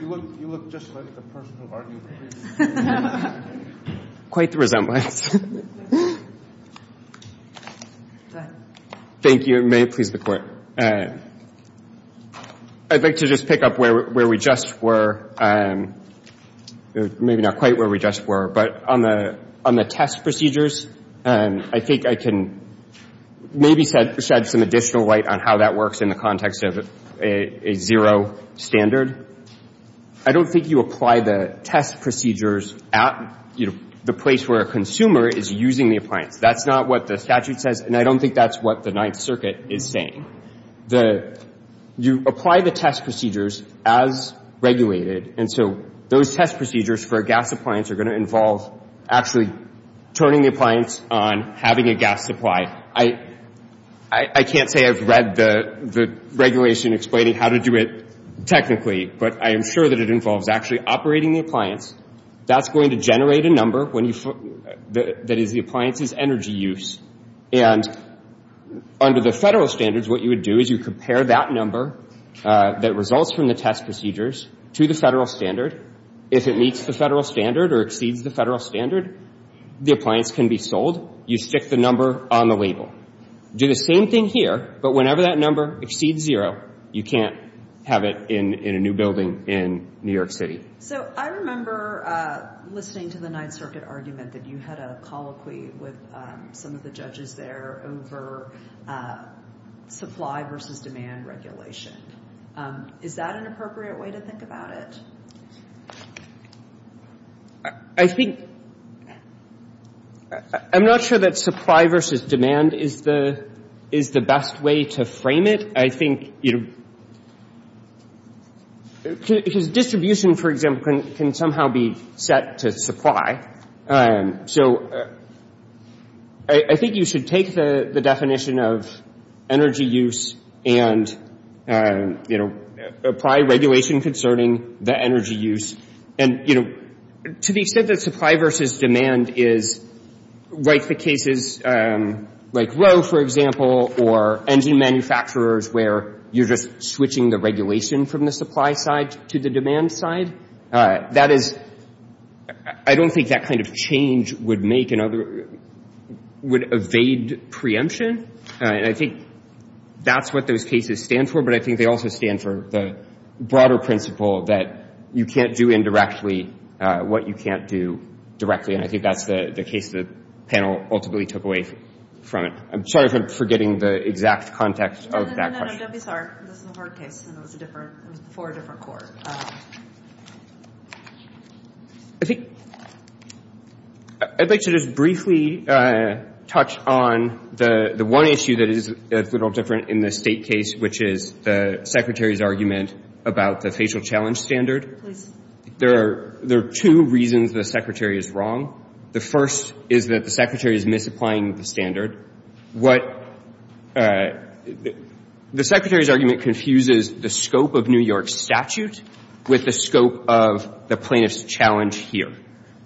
You look just like the person who argued the case. Quite the resemblance. Go ahead. Thank you. It may please the Court. I'd like to just pick up where we just were. Maybe not quite where we just were, but on the test procedures, I think I can maybe shed some additional light on how that works in the context of a zero standard. I don't think you apply the test procedures at the place where a consumer is using the appliance. That's not what the statute says, and I don't think that's what the Ninth Circuit is saying. You apply the test procedures as regulated, and so those test procedures for a gas appliance are going to involve actually turning the appliance on, having a gas supply. I can't say I've read the regulation explaining how to do it technically, but I am sure that it involves actually operating the appliance. That's going to generate a number that is the appliance's energy use, and under the federal standards, what you would do is you compare that number that results from the test procedures to the federal standard. If it meets the federal standard or exceeds the federal standard, the appliance can be sold. You stick the number on the label. Do the same thing here, but whenever that number exceeds zero, you can't have it in a new building in New York City. So I remember listening to the Ninth Circuit argument that you had a colloquy with some of the judges there over supply versus demand regulation. Is that an appropriate way to think about it? I think — I'm not sure that supply versus demand is the best way to frame it. I think, you know — because distribution, for example, can somehow be set to supply. So I think you should take the definition of energy use and, you know, apply regulation concerning the energy use, and, you know, to the extent that supply versus demand is like the cases like Rowe, for example, or engine manufacturers where you're just switching the regulation from the supply side to the demand side. That is — I don't think that kind of change would make another — would evade preemption. And I think that's what those cases stand for, but I think they also stand for the broader principle that you can't do indirectly what you can't do directly. And I think that's the case the panel ultimately took away from it. I'm sorry for forgetting the exact context of that question. No, no, no, no. Don't be sorry. This is a hard case, and it was a different — it was before a different court. I think — I'd like to just briefly touch on the one issue that is a little different in the State case, which is the Secretary's argument about the facial challenge standard. There are two reasons the Secretary is wrong. The first is that the Secretary is misapplying the standard. What — the Secretary's argument confuses the scope of New York's statute with the scope of the plaintiff's challenge here.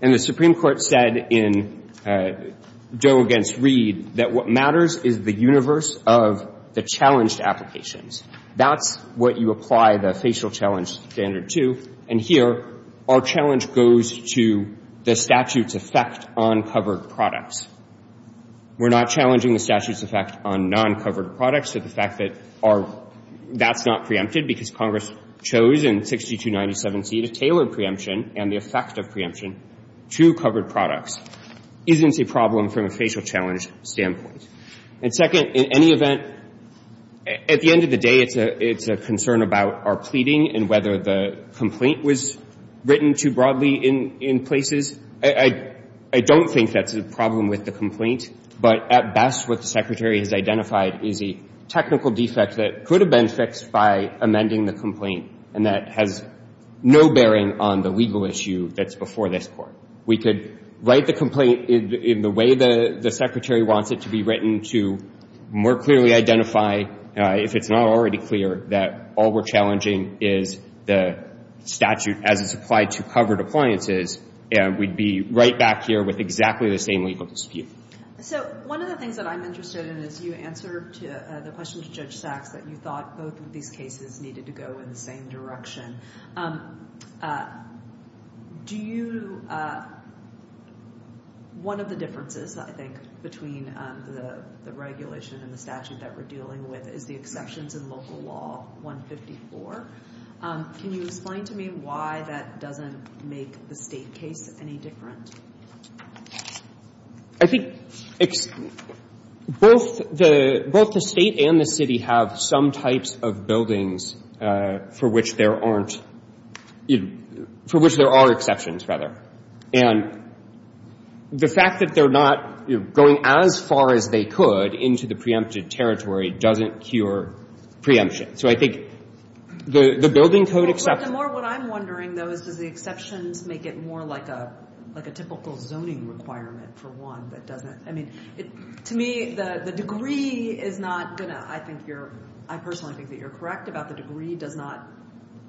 And the Supreme Court said in Doe v. Reed that what matters is the universe of the challenged applications. That's what you apply the facial challenge standard to. And here, our challenge goes to the statute's effect on covered products. We're not challenging the statute's effect on non-covered products. So the fact that our — that's not preempted because Congress chose in 6297C to tailor preemption and the effect of preemption to covered products isn't a problem from a facial challenge standpoint. And second, in any event, at the end of the day, it's a concern about our pleading and whether the complaint was written too broadly in places. I don't think that's a problem with the complaint. But at best, what the Secretary has identified is a technical defect that could have been fixed by amending the complaint and that has no bearing on the legal issue that's before this Court. We could write the complaint in the way the Secretary wants it to be written to more clearly identify, if it's not already clear, that all we're challenging is the statute as it's applied to covered appliances, and we'd be right back here with exactly the same legal dispute. So one of the things that I'm interested in is you answered the question to Judge Sachs that you thought both of these cases needed to go in the same direction. Do you — one of the differences, I think, between the regulation and the statute that we're dealing with is the exceptions in Local Law 154. Can you explain to me why that doesn't make the State case any different? I think both the — both the State and the City have some types of buildings for which there aren't — for which there are exceptions, rather. And the fact that they're not going as far as they could into the preempted territory doesn't cure preemption. So I think the building code except — The more what I'm wondering, though, is does the exceptions make it more like a — like a typical zoning requirement for one that doesn't — I mean, to me, the degree is not going to — I think you're — I personally think that you're correct about the degree does not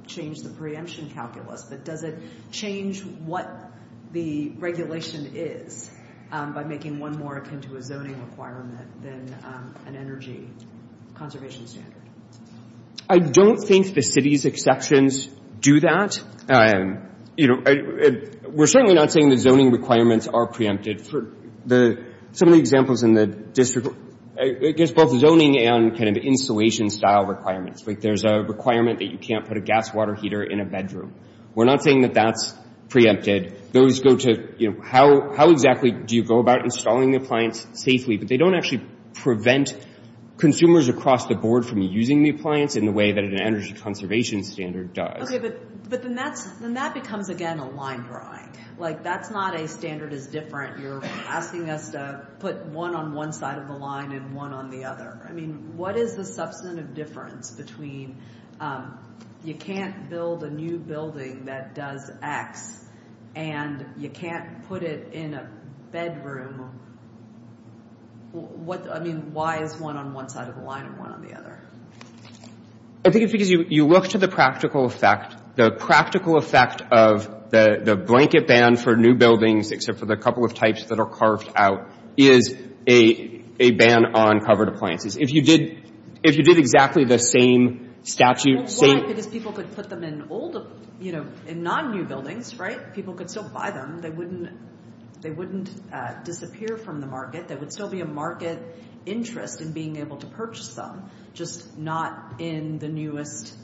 change the preemption calculus, but does it change what the regulation is by making one more akin to a zoning requirement than an energy conservation standard? I don't think the City's exceptions do that. You know, we're certainly not saying the zoning requirements are preempted. For the — some of the examples in the district — I guess both zoning and kind of installation-style requirements. Like, there's a requirement that you can't put a gas water heater in a bedroom. We're not saying that that's preempted. Those go to, you know, how exactly do you go about installing the appliance safely? But they don't actually prevent consumers across the board from using the appliance in the way that an energy conservation standard does. Okay, but then that's — then that becomes, again, a line drawing. Like, that's not a standard is different. You're asking us to put one on one side of the line and one on the other. I mean, what is the substantive difference between you can't build a new building that does X and you can't put it in a bedroom? What — I mean, why is one on one side of the line and one on the other? I think it's because you look to the practical effect. The practical effect of the blanket ban for new buildings, except for the couple of types that are carved out, is a ban on covered appliances. If you did — if you did exactly the same statute — Why? Because people could put them in old — you know, in non-new buildings, right? People could still buy them. They wouldn't — they wouldn't disappear from the market. There would still be a market interest in being able to purchase them, just not in the newest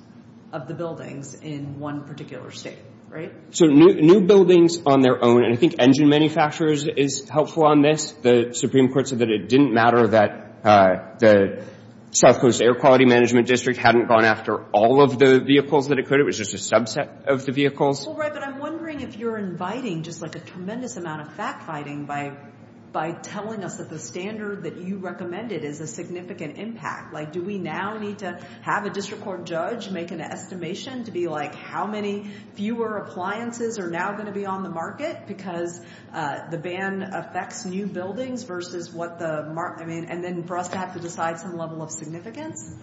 of the buildings in one particular state, right? So new buildings on their own — and I think engine manufacturers is helpful on this. The Supreme Court said that it didn't matter that the South Coast Air Quality Management District hadn't gone after all of the vehicles that it could. It was just a subset of the vehicles. Well, right, but I'm wondering if you're inviting just, like, a tremendous amount of fact-fighting by telling us that the standard that you recommended is a significant impact. Like, do we now need to have a district court judge make an estimation to be like, how many fewer appliances are now going to be on the market because the ban affects new buildings versus what the — I mean, and then for us to have to decide some level of significance?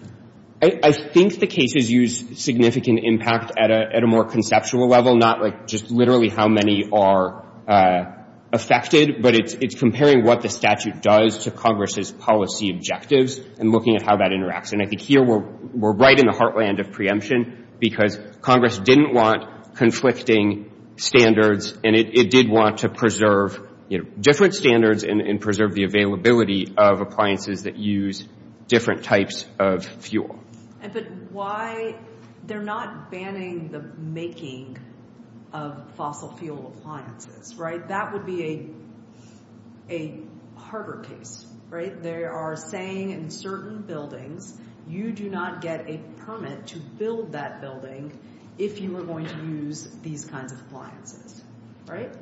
I think the cases use significant impact at a more conceptual level, not, like, just literally how many are affected, but it's comparing what the statute does to Congress's policy objectives and looking at how that interacts. And I think here we're right in the heartland of preemption because Congress didn't want conflicting standards, and it did want to preserve, you know, different standards and preserve the availability of appliances that use different types of fuel. But why — they're not banning the making of fossil fuel appliances, right? That would be a harder case, right? They are saying in certain buildings, you do not get a permit to build that building if you are going to use these kinds of appliances, right?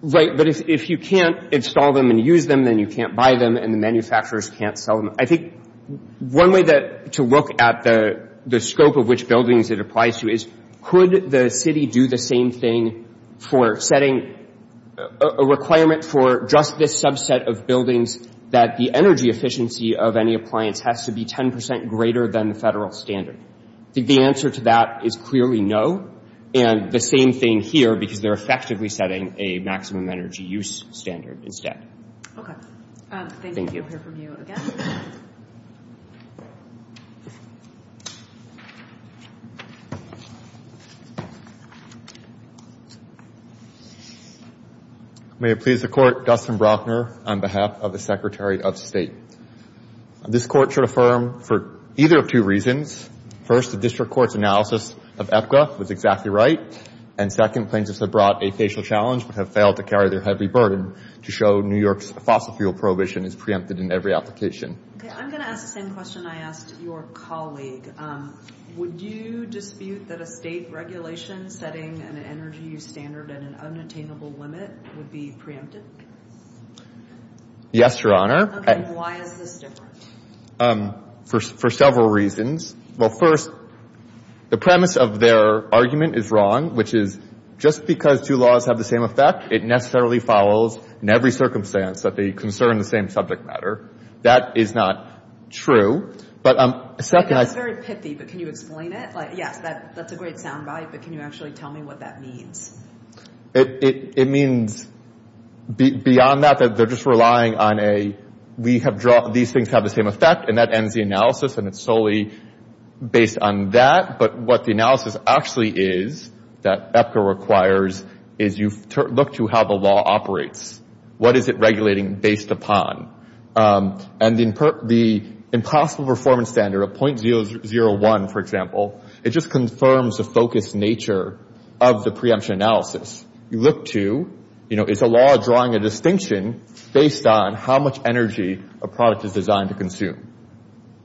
Right. But if you can't install them and use them, then you can't buy them and the manufacturers can't sell them. I think one way to look at the scope of which buildings it applies to is, could the city do the same thing for setting a requirement for just this subset of buildings that the energy efficiency of any appliance has to be 10 percent greater than the federal standard? I think the answer to that is clearly no, and the same thing here because they're effectively setting a maximum energy use standard instead. Okay. Thank you. We'll hear from you again. May it please the Court, Dustin Brockner on behalf of the Secretary of State. This Court should affirm for either of two reasons. First, the District Court's analysis of EPCA was exactly right. And second, plaintiffs have brought a facial challenge but have failed to carry their heavy burden to show New York's fossil fuel prohibition is preempted in every application. Okay. I'm going to ask the same question I asked your colleague. Would you dispute that a state regulation setting an energy use standard at an unattainable limit would be preempted? Yes, Your Honor. Okay. Why is this different? For several reasons. Well, first, the premise of their argument is wrong, which is just because two laws have the same effect, it necessarily follows in every circumstance that they concern the same subject matter. That is not true. But second, I... That's very pithy, but can you explain it? Like, yes, that's a great sound bite, but can you actually tell me what that means? It means, beyond that, that they're just relying on a, we have drawn, these things have the same effect, and that ends the analysis, and it's solely based on that. But what the analysis actually is, that EPCA requires, is you look to how the law operates. What is it regulating based upon? And the impossible performance standard, a .001, for example, it just confirms the focused nature of the preemption analysis. You look to, you know, is a law drawing a distinction based on how much energy a product is designed to consume?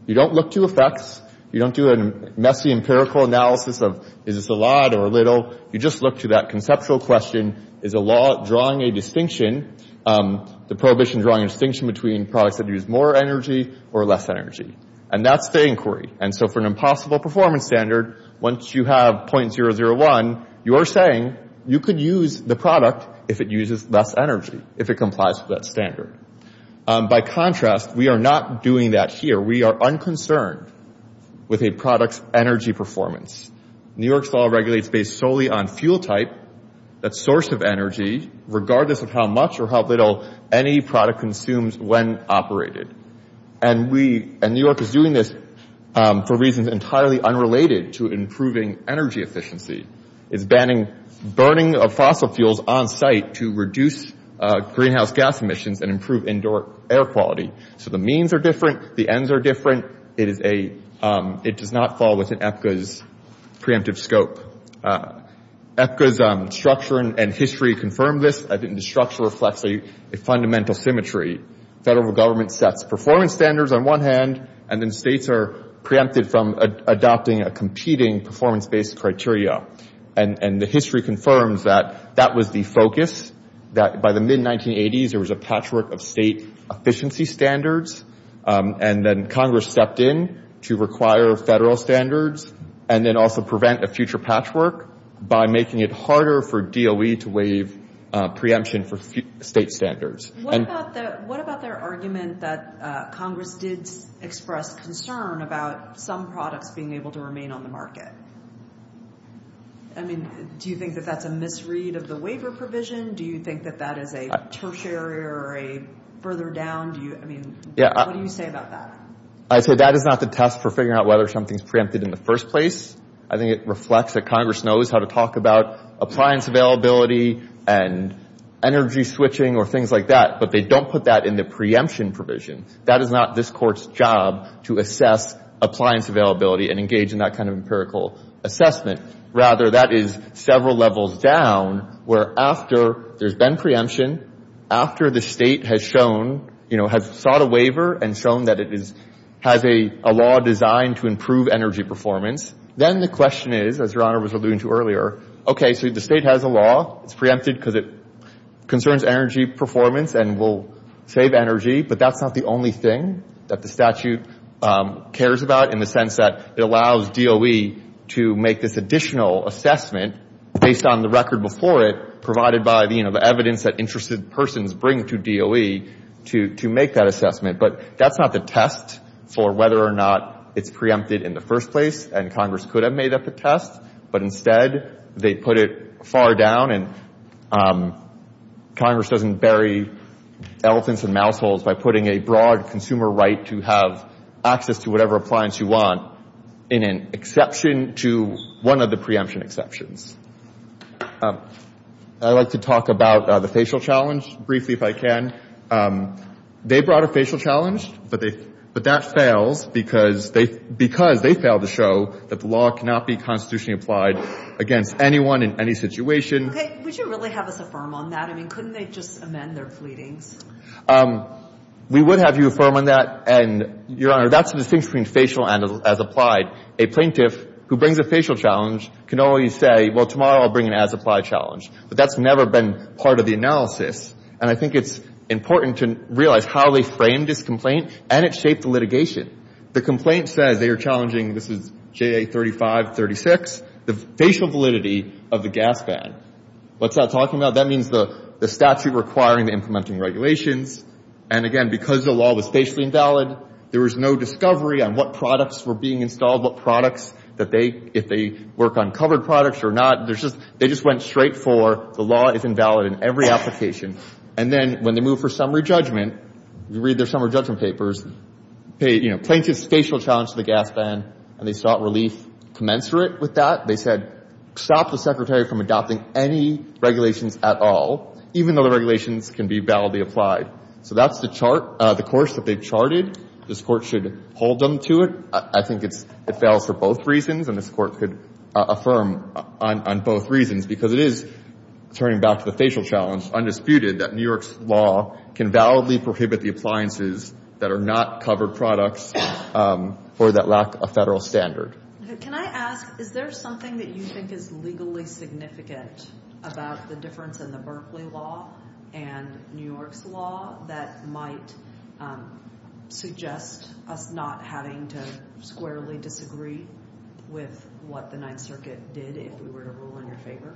You don't look to effects, you don't do a messy empirical analysis of, is this a lot or a little? You just look to that conceptual question, is a law drawing a distinction, the prohibition drawing a distinction between products that use more energy or less energy? And that's the inquiry. And so for an impossible performance standard, once you have .001, you're saying you could use the product if it uses less energy, if it complies with that standard. By contrast, we are not doing that here. We are unconcerned with a product's energy performance. New York's law regulates based solely on fuel type, that source of energy, regardless of how much or how little any product consumes when operated. And we, and New York is doing this for reasons entirely unrelated to improving energy efficiency. It's banning burning of fossil fuels on site to reduce greenhouse gas emissions and improve indoor air quality. So the means are different, the ends are different, it is a, it does not fall within EPCA's preemptive scope. EPCA's structure and history confirm this, I think the structure reflects a fundamental symmetry. Federal government sets performance standards on one hand, and then states are preempted from adopting a competing performance-based criteria. And the history confirms that that was the focus, that by the mid-1980s there was a patchwork of state efficiency standards, and then Congress stepped in to require federal standards, and then also prevent a future patchwork by making it harder for DOE to waive preemption for state standards. What about the, what about their argument that Congress did express concern about some products being able to remain on the market? I mean, do you think that that's a misread of the waiver provision? Do you think that that is a tertiary or a further down, do you, I mean, what do you say about that? I'd say that is not the test for figuring out whether something's preempted in the first place. I think it reflects that Congress knows how to talk about appliance availability and energy switching or things like that, but they don't put that in the preemption provision. That is not this Court's job to assess appliance availability and engage in that kind of empirical assessment. Rather, that is several levels down, where after there's been preemption, after the state has shown, you know, has sought a waiver and shown that it is, has a law designed to improve energy performance, then the question is, as Your Honor was alluding to earlier, okay, so the state has a law, it's preempted because it concerns energy performance and will save energy, but that's not the only thing that the statute cares about in the sense that it allows DOE to make this additional assessment based on the record before it, provided by the, you know, the evidence that interested persons bring to DOE to make that assessment. But that's not the test for whether or not it's preempted in the first place, and Congress could have made up a test, but instead they put it far down and Congress doesn't bury elephants and mouse holes by putting a broad consumer right to have access to whatever appliance you want in an exception to one of the preemption exceptions. I'd like to talk about the facial challenge briefly, if I can. They brought a facial challenge, but they, but that fails because they, because they failed to show that the law cannot be constitutionally applied against anyone in any situation. Okay. Would you really have us affirm on that? I mean, couldn't they just amend their pleadings? We would have you affirm on that, and Your Honor, that's the distinction between facial and as applied. A plaintiff who brings a facial challenge can always say, well, tomorrow I'll bring an as applied challenge, but that's never been part of the analysis, and I think it's important to realize how they framed this complaint and it shaped the litigation. The complaint says they are challenging, this is JA 3536, the facial validity of the gas fan. What's that talking about? That means the statute requiring the implementing regulations, and again, because the law was facially invalid, there was no discovery on what products were being installed, what products that they, if they work on covered products or not, there's just, they just went straight for the law is invalid in every application. And then when they move for summary judgment, you read their summary judgment papers, you know, plaintiff's facial challenge to the gas fan, and they sought relief commensurate with that. They said stop the secretary from adopting any regulations at all, even though the regulations can be validly applied. So that's the chart, the course that they've charted. This Court should hold them to it. I think it's, it fails for both reasons, and this Court could affirm on both reasons, because it is turning back to the facial challenge, undisputed, that New York's law can validly prohibit the appliances that are not covered products or that lack a federal standard. Can I ask, is there something that you think is legally significant about the difference in the Berkeley law and New York's law that might suggest us not having to squarely disagree with what the Ninth Circuit did if we were to rule in your favor?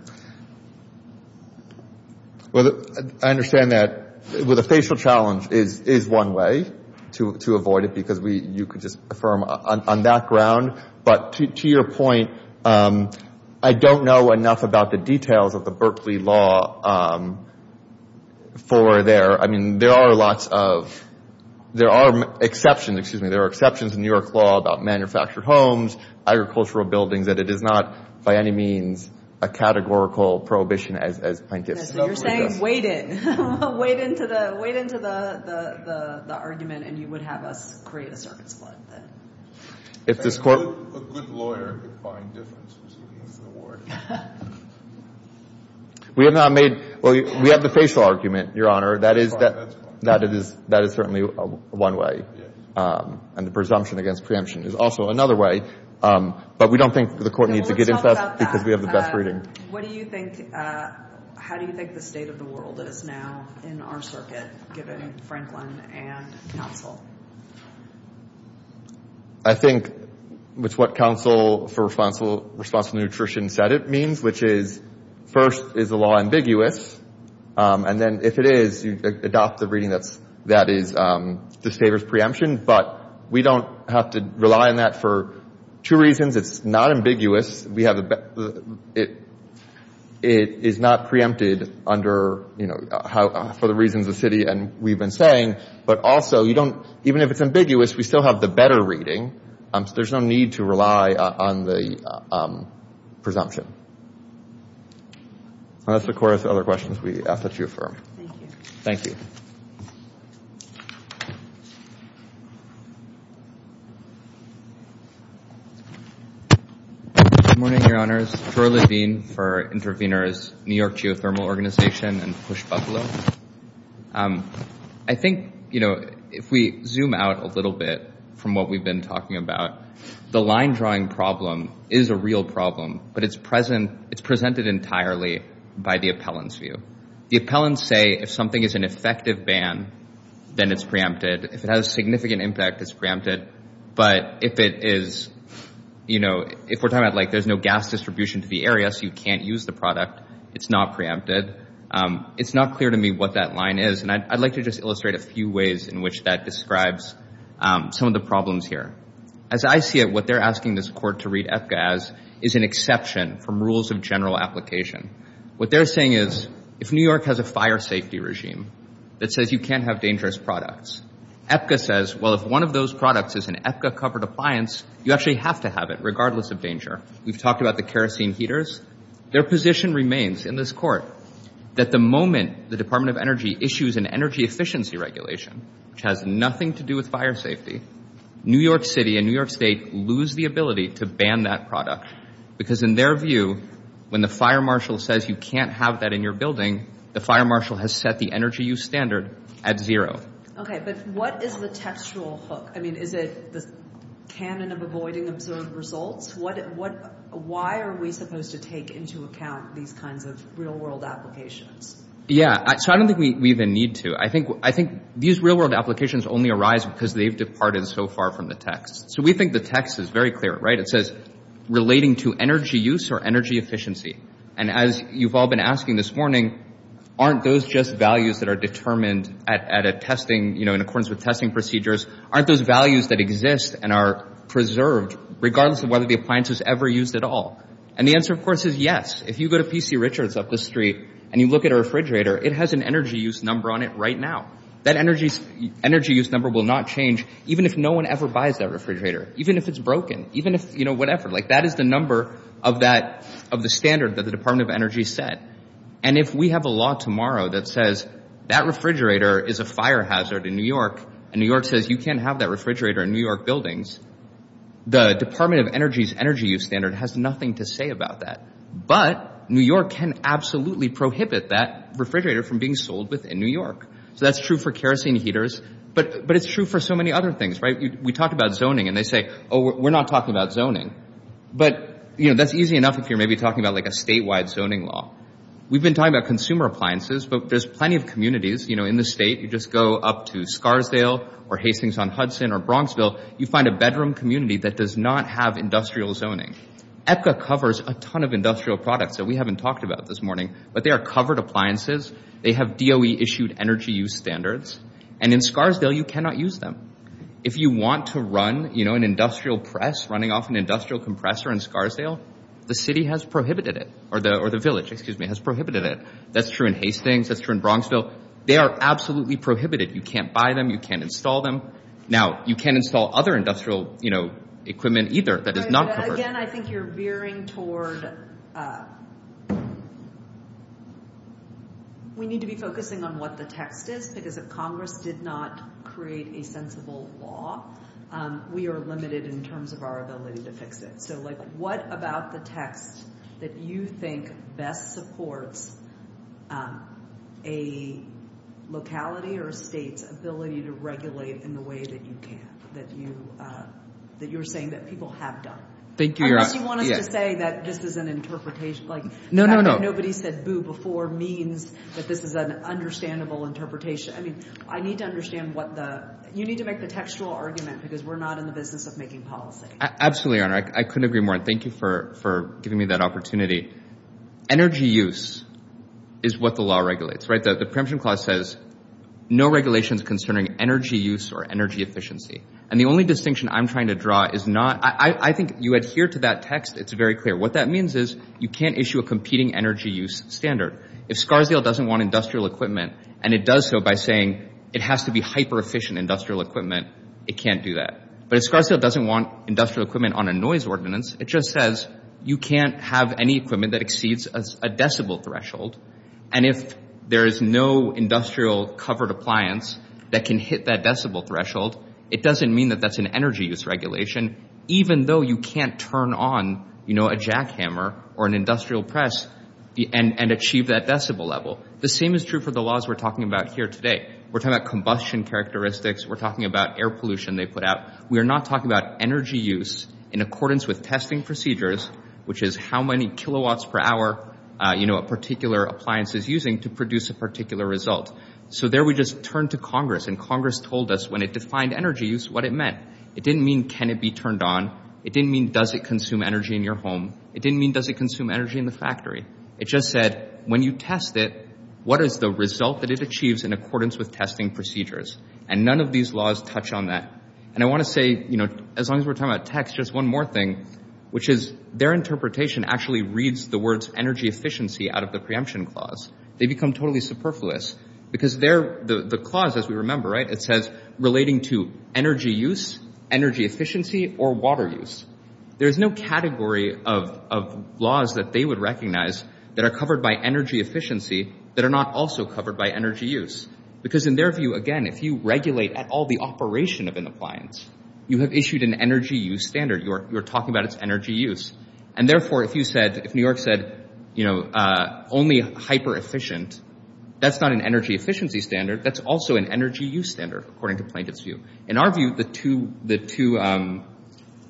Well, I understand that the facial challenge is one way to avoid it, because we, you could just affirm on that ground. But to your point, I don't know enough about the details of the Berkeley law for their, I mean, there are lots of, there are exceptions, excuse me, there are exceptions in New York's law about manufactured homes, agricultural buildings, that it is not by any means a categorical prohibition as plaintiffs. So you're saying, wait in, wait into the argument and you would have us create a circuit split then. If this Court... A good lawyer could find difference between these two words. We have not made, well, we have the facial argument, Your Honor. That is, that is certainly one way. And the presumption against preemption is also another way. But we don't think the Court needs to get into that because we have the best reading. What do you think, how do you think the state of the world is now in our circuit given Franklin and counsel? I think it's what counsel for responsible nutrition said it means, which is first, is the law ambiguous? And then if it is, you adopt the reading that is, that favors preemption. But we don't have to rely on that for two reasons. It's not ambiguous. We have, it is not preempted under, you know, for the reasons the city and we've been saying. But also, you don't, even if it's ambiguous, we still have the better reading. So there's no need to rely on the presumption. And that's the core of the other questions we ask at GeoFerm. Thank you. Thank you. Good morning, Your Honors, Troy Levine for Intervenors, New York Geothermal Organization and Push Buffalo. I think, you know, if we zoom out a little bit from what we've been talking about, the line drawing problem is a real problem, but it's present, it's presented entirely by the appellant's view. The appellants say if something is an effective ban, then it's preempted. If it has significant impact, it's preempted. But if it is, you know, if we're talking about like there's no gas distribution to the area, so you can't use the product, it's not preempted. It's not clear to me what that line is, and I'd like to just illustrate a few ways in which that describes some of the problems here. As I see it, what they're asking this court to read EPCA as is an exception from rules of general application. What they're saying is, if New York has a fire safety regime that says you can't have dangerous products, EPCA says, well, if one of those products is an EPCA-covered appliance, you actually have to have it regardless of danger. We've talked about the kerosene heaters. Their position remains in this court that the moment the Department of Energy issues an energy efficiency regulation, which has nothing to do with fire safety, New York City and New York State lose the ability to ban that product. Because in their view, when the fire marshal says you can't have that in your building, the fire marshal has set the energy use standard at zero. Okay, but what is the textual hook? I mean, is it the canon of avoiding observed results? Why are we supposed to take into account these kinds of real-world applications? Yeah. So I don't think we even need to. I think these real-world applications only arise because they've departed so far from the text. So we think the text is very clear, right? It says, relating to energy use or energy efficiency. And as you've all been asking this morning, aren't those just values that are determined at a testing, you know, in accordance with testing procedures, aren't those values that exist and are preserved regardless of whether the appliance is ever used at all? And the answer, of course, is yes. If you go to P.C. Richards up the street and you look at a refrigerator, it has an energy use number on it right now. That energy use number will not change even if no one ever buys that refrigerator, even if it's broken, even if, you know, whatever. Like that is the number of that, of the standard that the Department of Energy set. And if we have a law tomorrow that says that refrigerator is a fire hazard in New York and New York says you can't have that refrigerator in New York buildings, the Department of Energy's energy use standard has nothing to say about that. But New York can absolutely prohibit that refrigerator from being sold within New York. So that's true for kerosene heaters, but it's true for so many other things, right? We talk about zoning and they say, oh, we're not talking about zoning. But you know, that's easy enough if you're maybe talking about like a statewide zoning law. We've been talking about consumer appliances, but there's plenty of communities, you know, in the state. You just go up to Scarsdale or Hastings-on-Hudson or Bronxville, you find a bedroom community that does not have industrial zoning. ECHA covers a ton of industrial products that we haven't talked about this morning, but they are covered appliances. They have DOE-issued energy use standards. And in Scarsdale, you cannot use them. If you want to run, you know, an industrial press running off an industrial compressor in Scarsdale, the city has prohibited it or the village, excuse me, has prohibited it. That's true in Hastings. That's true in Bronxville. They are absolutely prohibited. You can't buy them. You can't install them. Now, you can't install other industrial, you know, equipment either that is not covered. Again, I think you're veering toward, we need to be focusing on what the text is because if Congress did not create a sensible law, we are limited in terms of our ability to fix it. So, like, what about the text that you think best supports a locality or a state's ability to regulate in the way that you can, that you're saying that people have done? I guess you want us to say that this is an interpretation. Like, nobody said boo before means that this is an understandable interpretation. I mean, I need to understand what the, you need to make the textual argument because we're not in the business of making policy. Absolutely, Your Honor. I couldn't agree more. Thank you for giving me that opportunity. Energy use is what the law regulates, right? The preemption clause says no regulations concerning energy use or energy efficiency. And the only distinction I'm trying to draw is not, I think you adhere to that text. It's very clear. What that means is you can't issue a competing energy use standard. If Scarsdale doesn't want industrial equipment and it does so by saying it has to be hyper-efficient industrial equipment, it can't do that. But if Scarsdale doesn't want industrial equipment on a noise ordinance, it just says you can't have any equipment that exceeds a decibel threshold. And if there is no industrial covered appliance that can hit that decibel threshold, it doesn't mean that that's an energy use regulation, even though you can't turn on, you know, a jackhammer or an industrial press and achieve that decibel level. The same is true for the laws we're talking about here today. We're talking about combustion characteristics. We're talking about air pollution they put out. We are not talking about energy use in accordance with testing procedures, which is how many kilowatts per hour, you know, a particular appliance is using to produce a particular result. So there we just turned to Congress and Congress told us when it defined energy use, what it meant. It didn't mean can it be turned on. It didn't mean does it consume energy in your home. It didn't mean does it consume energy in the factory. It just said when you test it, what is the result that it achieves in accordance with testing procedures? And none of these laws touch on that. And I want to say, you know, as long as we're talking about techs, just one more thing, which is their interpretation actually reads the words energy efficiency out of the preemption clause. They become totally superfluous because they're the clause, as we remember, right, it says relating to energy use, energy efficiency or water use. There's no category of laws that they would recognize that are covered by energy efficiency that are not also covered by energy use. Because in their view, again, if you regulate at all the operation of an appliance, you have issued an energy use standard. You're talking about its energy use. And therefore, if you said, if New York said, you know, only hyper-efficient, that's not an energy efficiency standard. That's also an energy use standard, according to Plaintiff's view. In our view, the two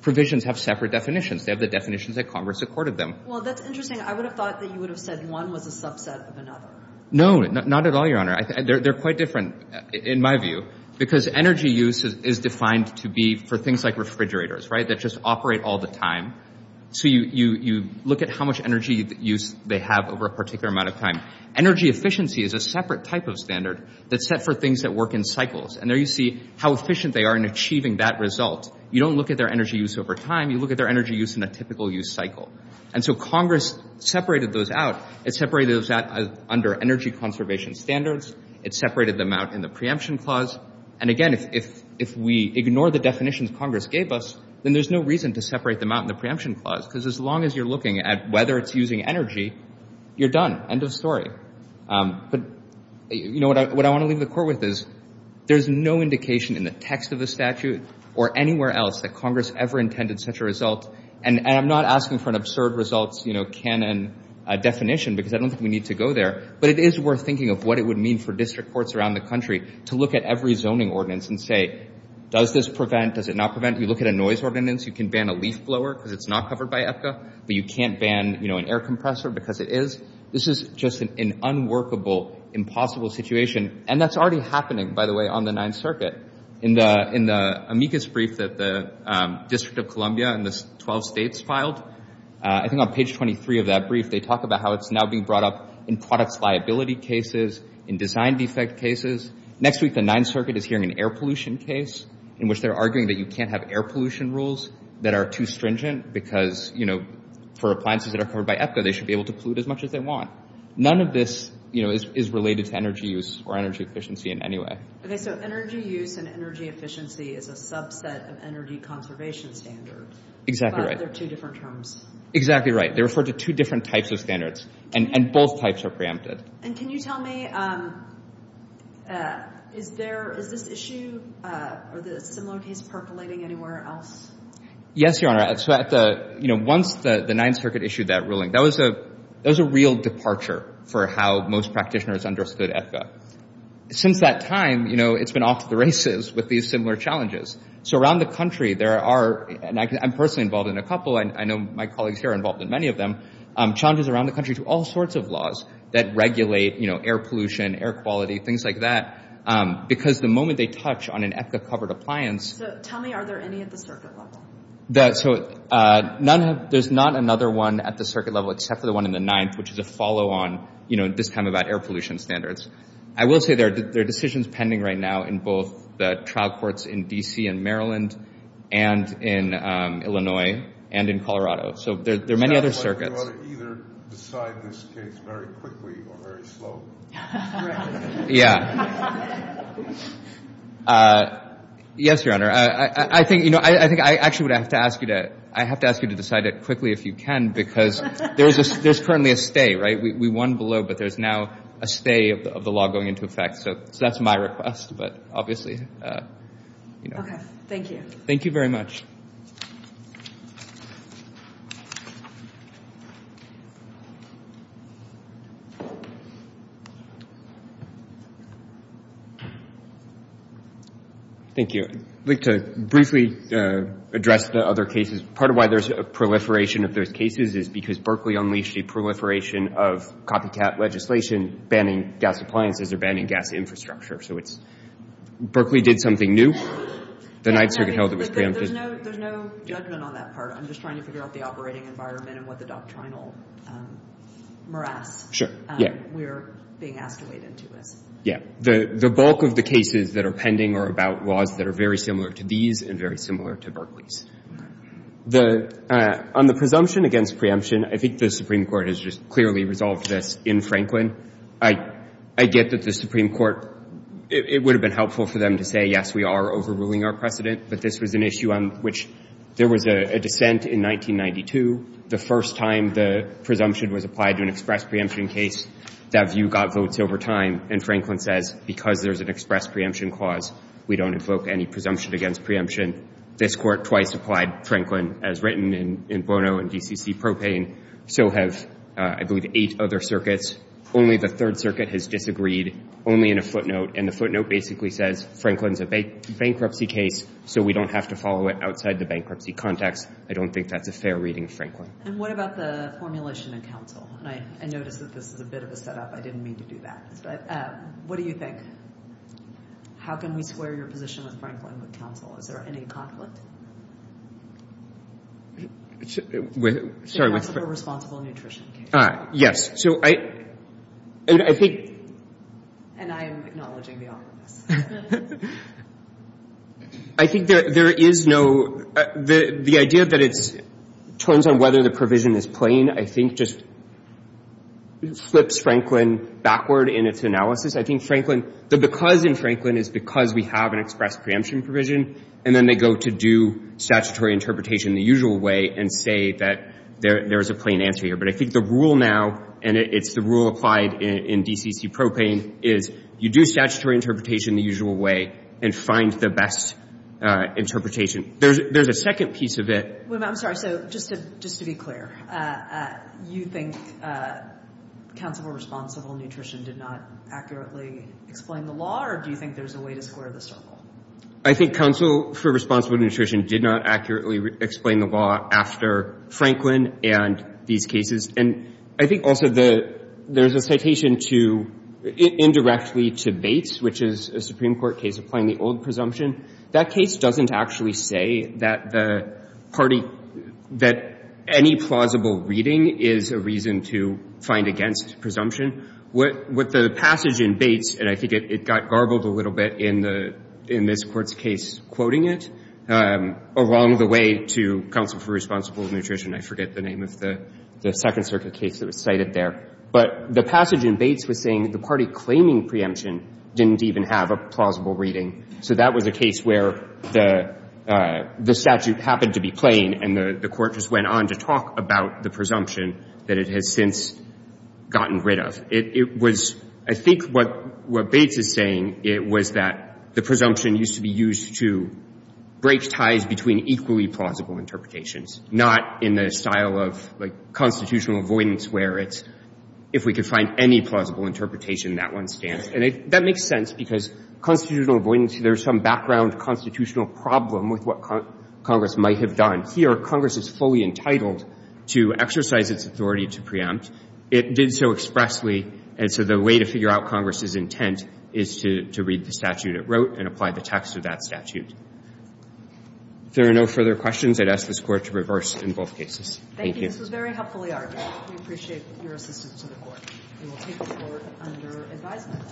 provisions have separate definitions. They have the definitions that Congress accorded them. Well, that's interesting. I would have thought that you would have said one was a subset of another. No, not at all, Your Honor. They're quite different, in my view, because energy use is defined to be for things like refrigerators, right, that just operate all the time. So you look at how much energy use they have over a particular amount of time. Energy efficiency is a separate type of standard that's set for things that work in cycles. And there you see how efficient they are in achieving that result. You don't look at their energy use over time. You look at their energy use in a typical use cycle. And so Congress separated those out. It separated those out under energy conservation standards. It separated them out in the preemption clause. And again, if we ignore the definitions Congress gave us, then there's no reason to separate them out in the preemption clause, because as long as you're looking at whether it's using energy, you're done. End of story. But, you know, what I want to leave the Court with is there's no indication in the text of the statute or anywhere else that Congress ever intended such a result. And I'm not asking for an absurd results, you know, canon definition, because I don't think we need to go there. But it is worth thinking of what it would mean for district courts around the country to look at every zoning ordinance and say, does this prevent? Does it not prevent? You look at a noise ordinance, you can ban a leaf blower because it's not covered by EPCA, but you can't ban, you know, an air compressor because it is. This is just an unworkable, impossible situation. And that's already happening, by the way, on the Ninth Circuit. In the amicus brief that the District of Columbia and the 12 states filed, I think on page 23 of that brief, they talk about how it's now being brought up in products liability cases, in design defect cases. Next week, the Ninth Circuit is hearing an air pollution case in which they're arguing that you can't have air pollution rules that are too stringent because, you know, for appliances that are covered by EPCA, they should be able to pollute as much as they want. None of this, you know, is related to energy use or energy efficiency in any way. Okay, so energy use and energy efficiency is a subset of energy conservation standards. Exactly right. But they're two different terms. Exactly right. They refer to two different types of standards, and both types are preempted. And can you tell me, is this issue or the similar case percolating anywhere else? Yes, Your Honor. So at the, you know, once the Ninth Circuit issued that ruling, that was a real departure for how most practitioners understood EPCA. Since that time, you know, it's been off to the races with these similar challenges. So around the country, there are, and I'm personally involved in a couple, and I know my colleagues here are involved in many of them, challenges around the country to all sorts of laws that regulate, you know, air pollution, air quality, things like that. Because the moment they touch on an EPCA-covered appliance... So tell me, are there any at the circuit level? So none have, there's not another one at the circuit level except for the one in the Ninth, which is a follow-on, you know, this time about air pollution standards. I will say there are decisions pending right now in both the trial courts in D.C. and Maryland and in Illinois and in Colorado. So there are many other circuits. Is that why we ought to either decide this case very quickly or very slowly? Yeah. Yes, Your Honor. I think, you know, I think I actually would have to ask you to, I have to ask you to decide it quickly if you can, because there's currently a stay, right? We won below, but there's now a stay of the law going into effect. So that's my request, but obviously, you know... Thank you. Thank you very much. Thank you. I'd like to briefly address the other cases. Part of why there's a proliferation of those cases is because Berkeley unleashed a proliferation of copycat legislation banning gas appliances or banning gas infrastructure. So it's, Berkeley did something new. The Ninth Circuit held it was preemptive. There's no, there's no judgment on that part. I'm just trying to figure out the operating environment and what the doctrinal morass we're being escalated to is. Yeah. The bulk of the cases that are pending are about laws that are very similar to these and very similar to Berkeley's. On the presumption against preemption, I think the Supreme Court has just clearly resolved this in Franklin. I get that the Supreme Court, it would have been helpful for them to say, yes, we are overruling our precedent, but this was an issue on which there was a dissent in 1992. The first time the presumption was applied to an express preemption case, that view got votes over time. And Franklin says, because there's an express preemption clause, we don't invoke any presumption against preemption. This court twice applied Franklin, as written in Bono and DCC Propane. So have, I believe, eight other circuits. Only the Third Circuit has disagreed, only in a footnote. And the footnote basically says, Franklin's a bankruptcy case, so we don't have to follow it outside the bankruptcy context. I don't think that's a fair reading of Franklin. And what about the formulation in counsel? And I noticed that this is a bit of a setup. I didn't mean to do that. But what do you think? How can we square your position with Franklin with counsel? Is there any conflict? With, sorry. It's a responsible nutrition case. Yes. So I, and I think. And I am acknowledging the awkwardness. I think that there is no, the idea that it's, it turns on whether the provision is plain, I think, just flips Franklin backward in its analysis. I think Franklin, the because in Franklin is because we have an express preemption provision, and then they go to do statutory interpretation the usual way and say that there is a plain answer here. But I think the rule now, and it's the rule applied in DCC Propane, is you do statutory interpretation the usual way and find the best interpretation. There's a second piece of it. I'm sorry. So just to be clear, you think counsel for responsible nutrition did not accurately explain the law, or do you think there's a way to square the circle? I think counsel for responsible nutrition did not accurately explain the law after Franklin and these cases. And I think also the, there's a citation to, indirectly to Bates, which is a Supreme Court case applying the old presumption. That case doesn't actually say that the party, that any plausible reading is a reason to find against presumption. What the passage in Bates, and I think it got garbled a little bit in the, in this court's case quoting it, along the way to counsel for responsible nutrition, I forget the name of the Second Circuit case that was cited there. But the passage in Bates was saying the party claiming preemption didn't even have a plausible reading. So that was a case where the statute happened to be plain, and the court just went on to talk about the presumption that it has since gotten rid of. It was, I think what Bates is saying, it was that the presumption used to be used to break ties between equally plausible interpretations, not in the style of like constitutional avoidance where it's, if we could find any plausible interpretation, that one stands. And that makes sense because constitutional avoidance, there's some background constitutional problem with what Congress might have done. Here, Congress is fully entitled to exercise its authority to preempt. It did so expressly, and so the way to figure out Congress's intent is to read the statute it wrote and apply the text of that statute. If there are no further questions, I'd ask this Court to reverse in both cases. Thank you. This was very helpfully argued. We appreciate your assistance to the Court. We will take the Court under advisement.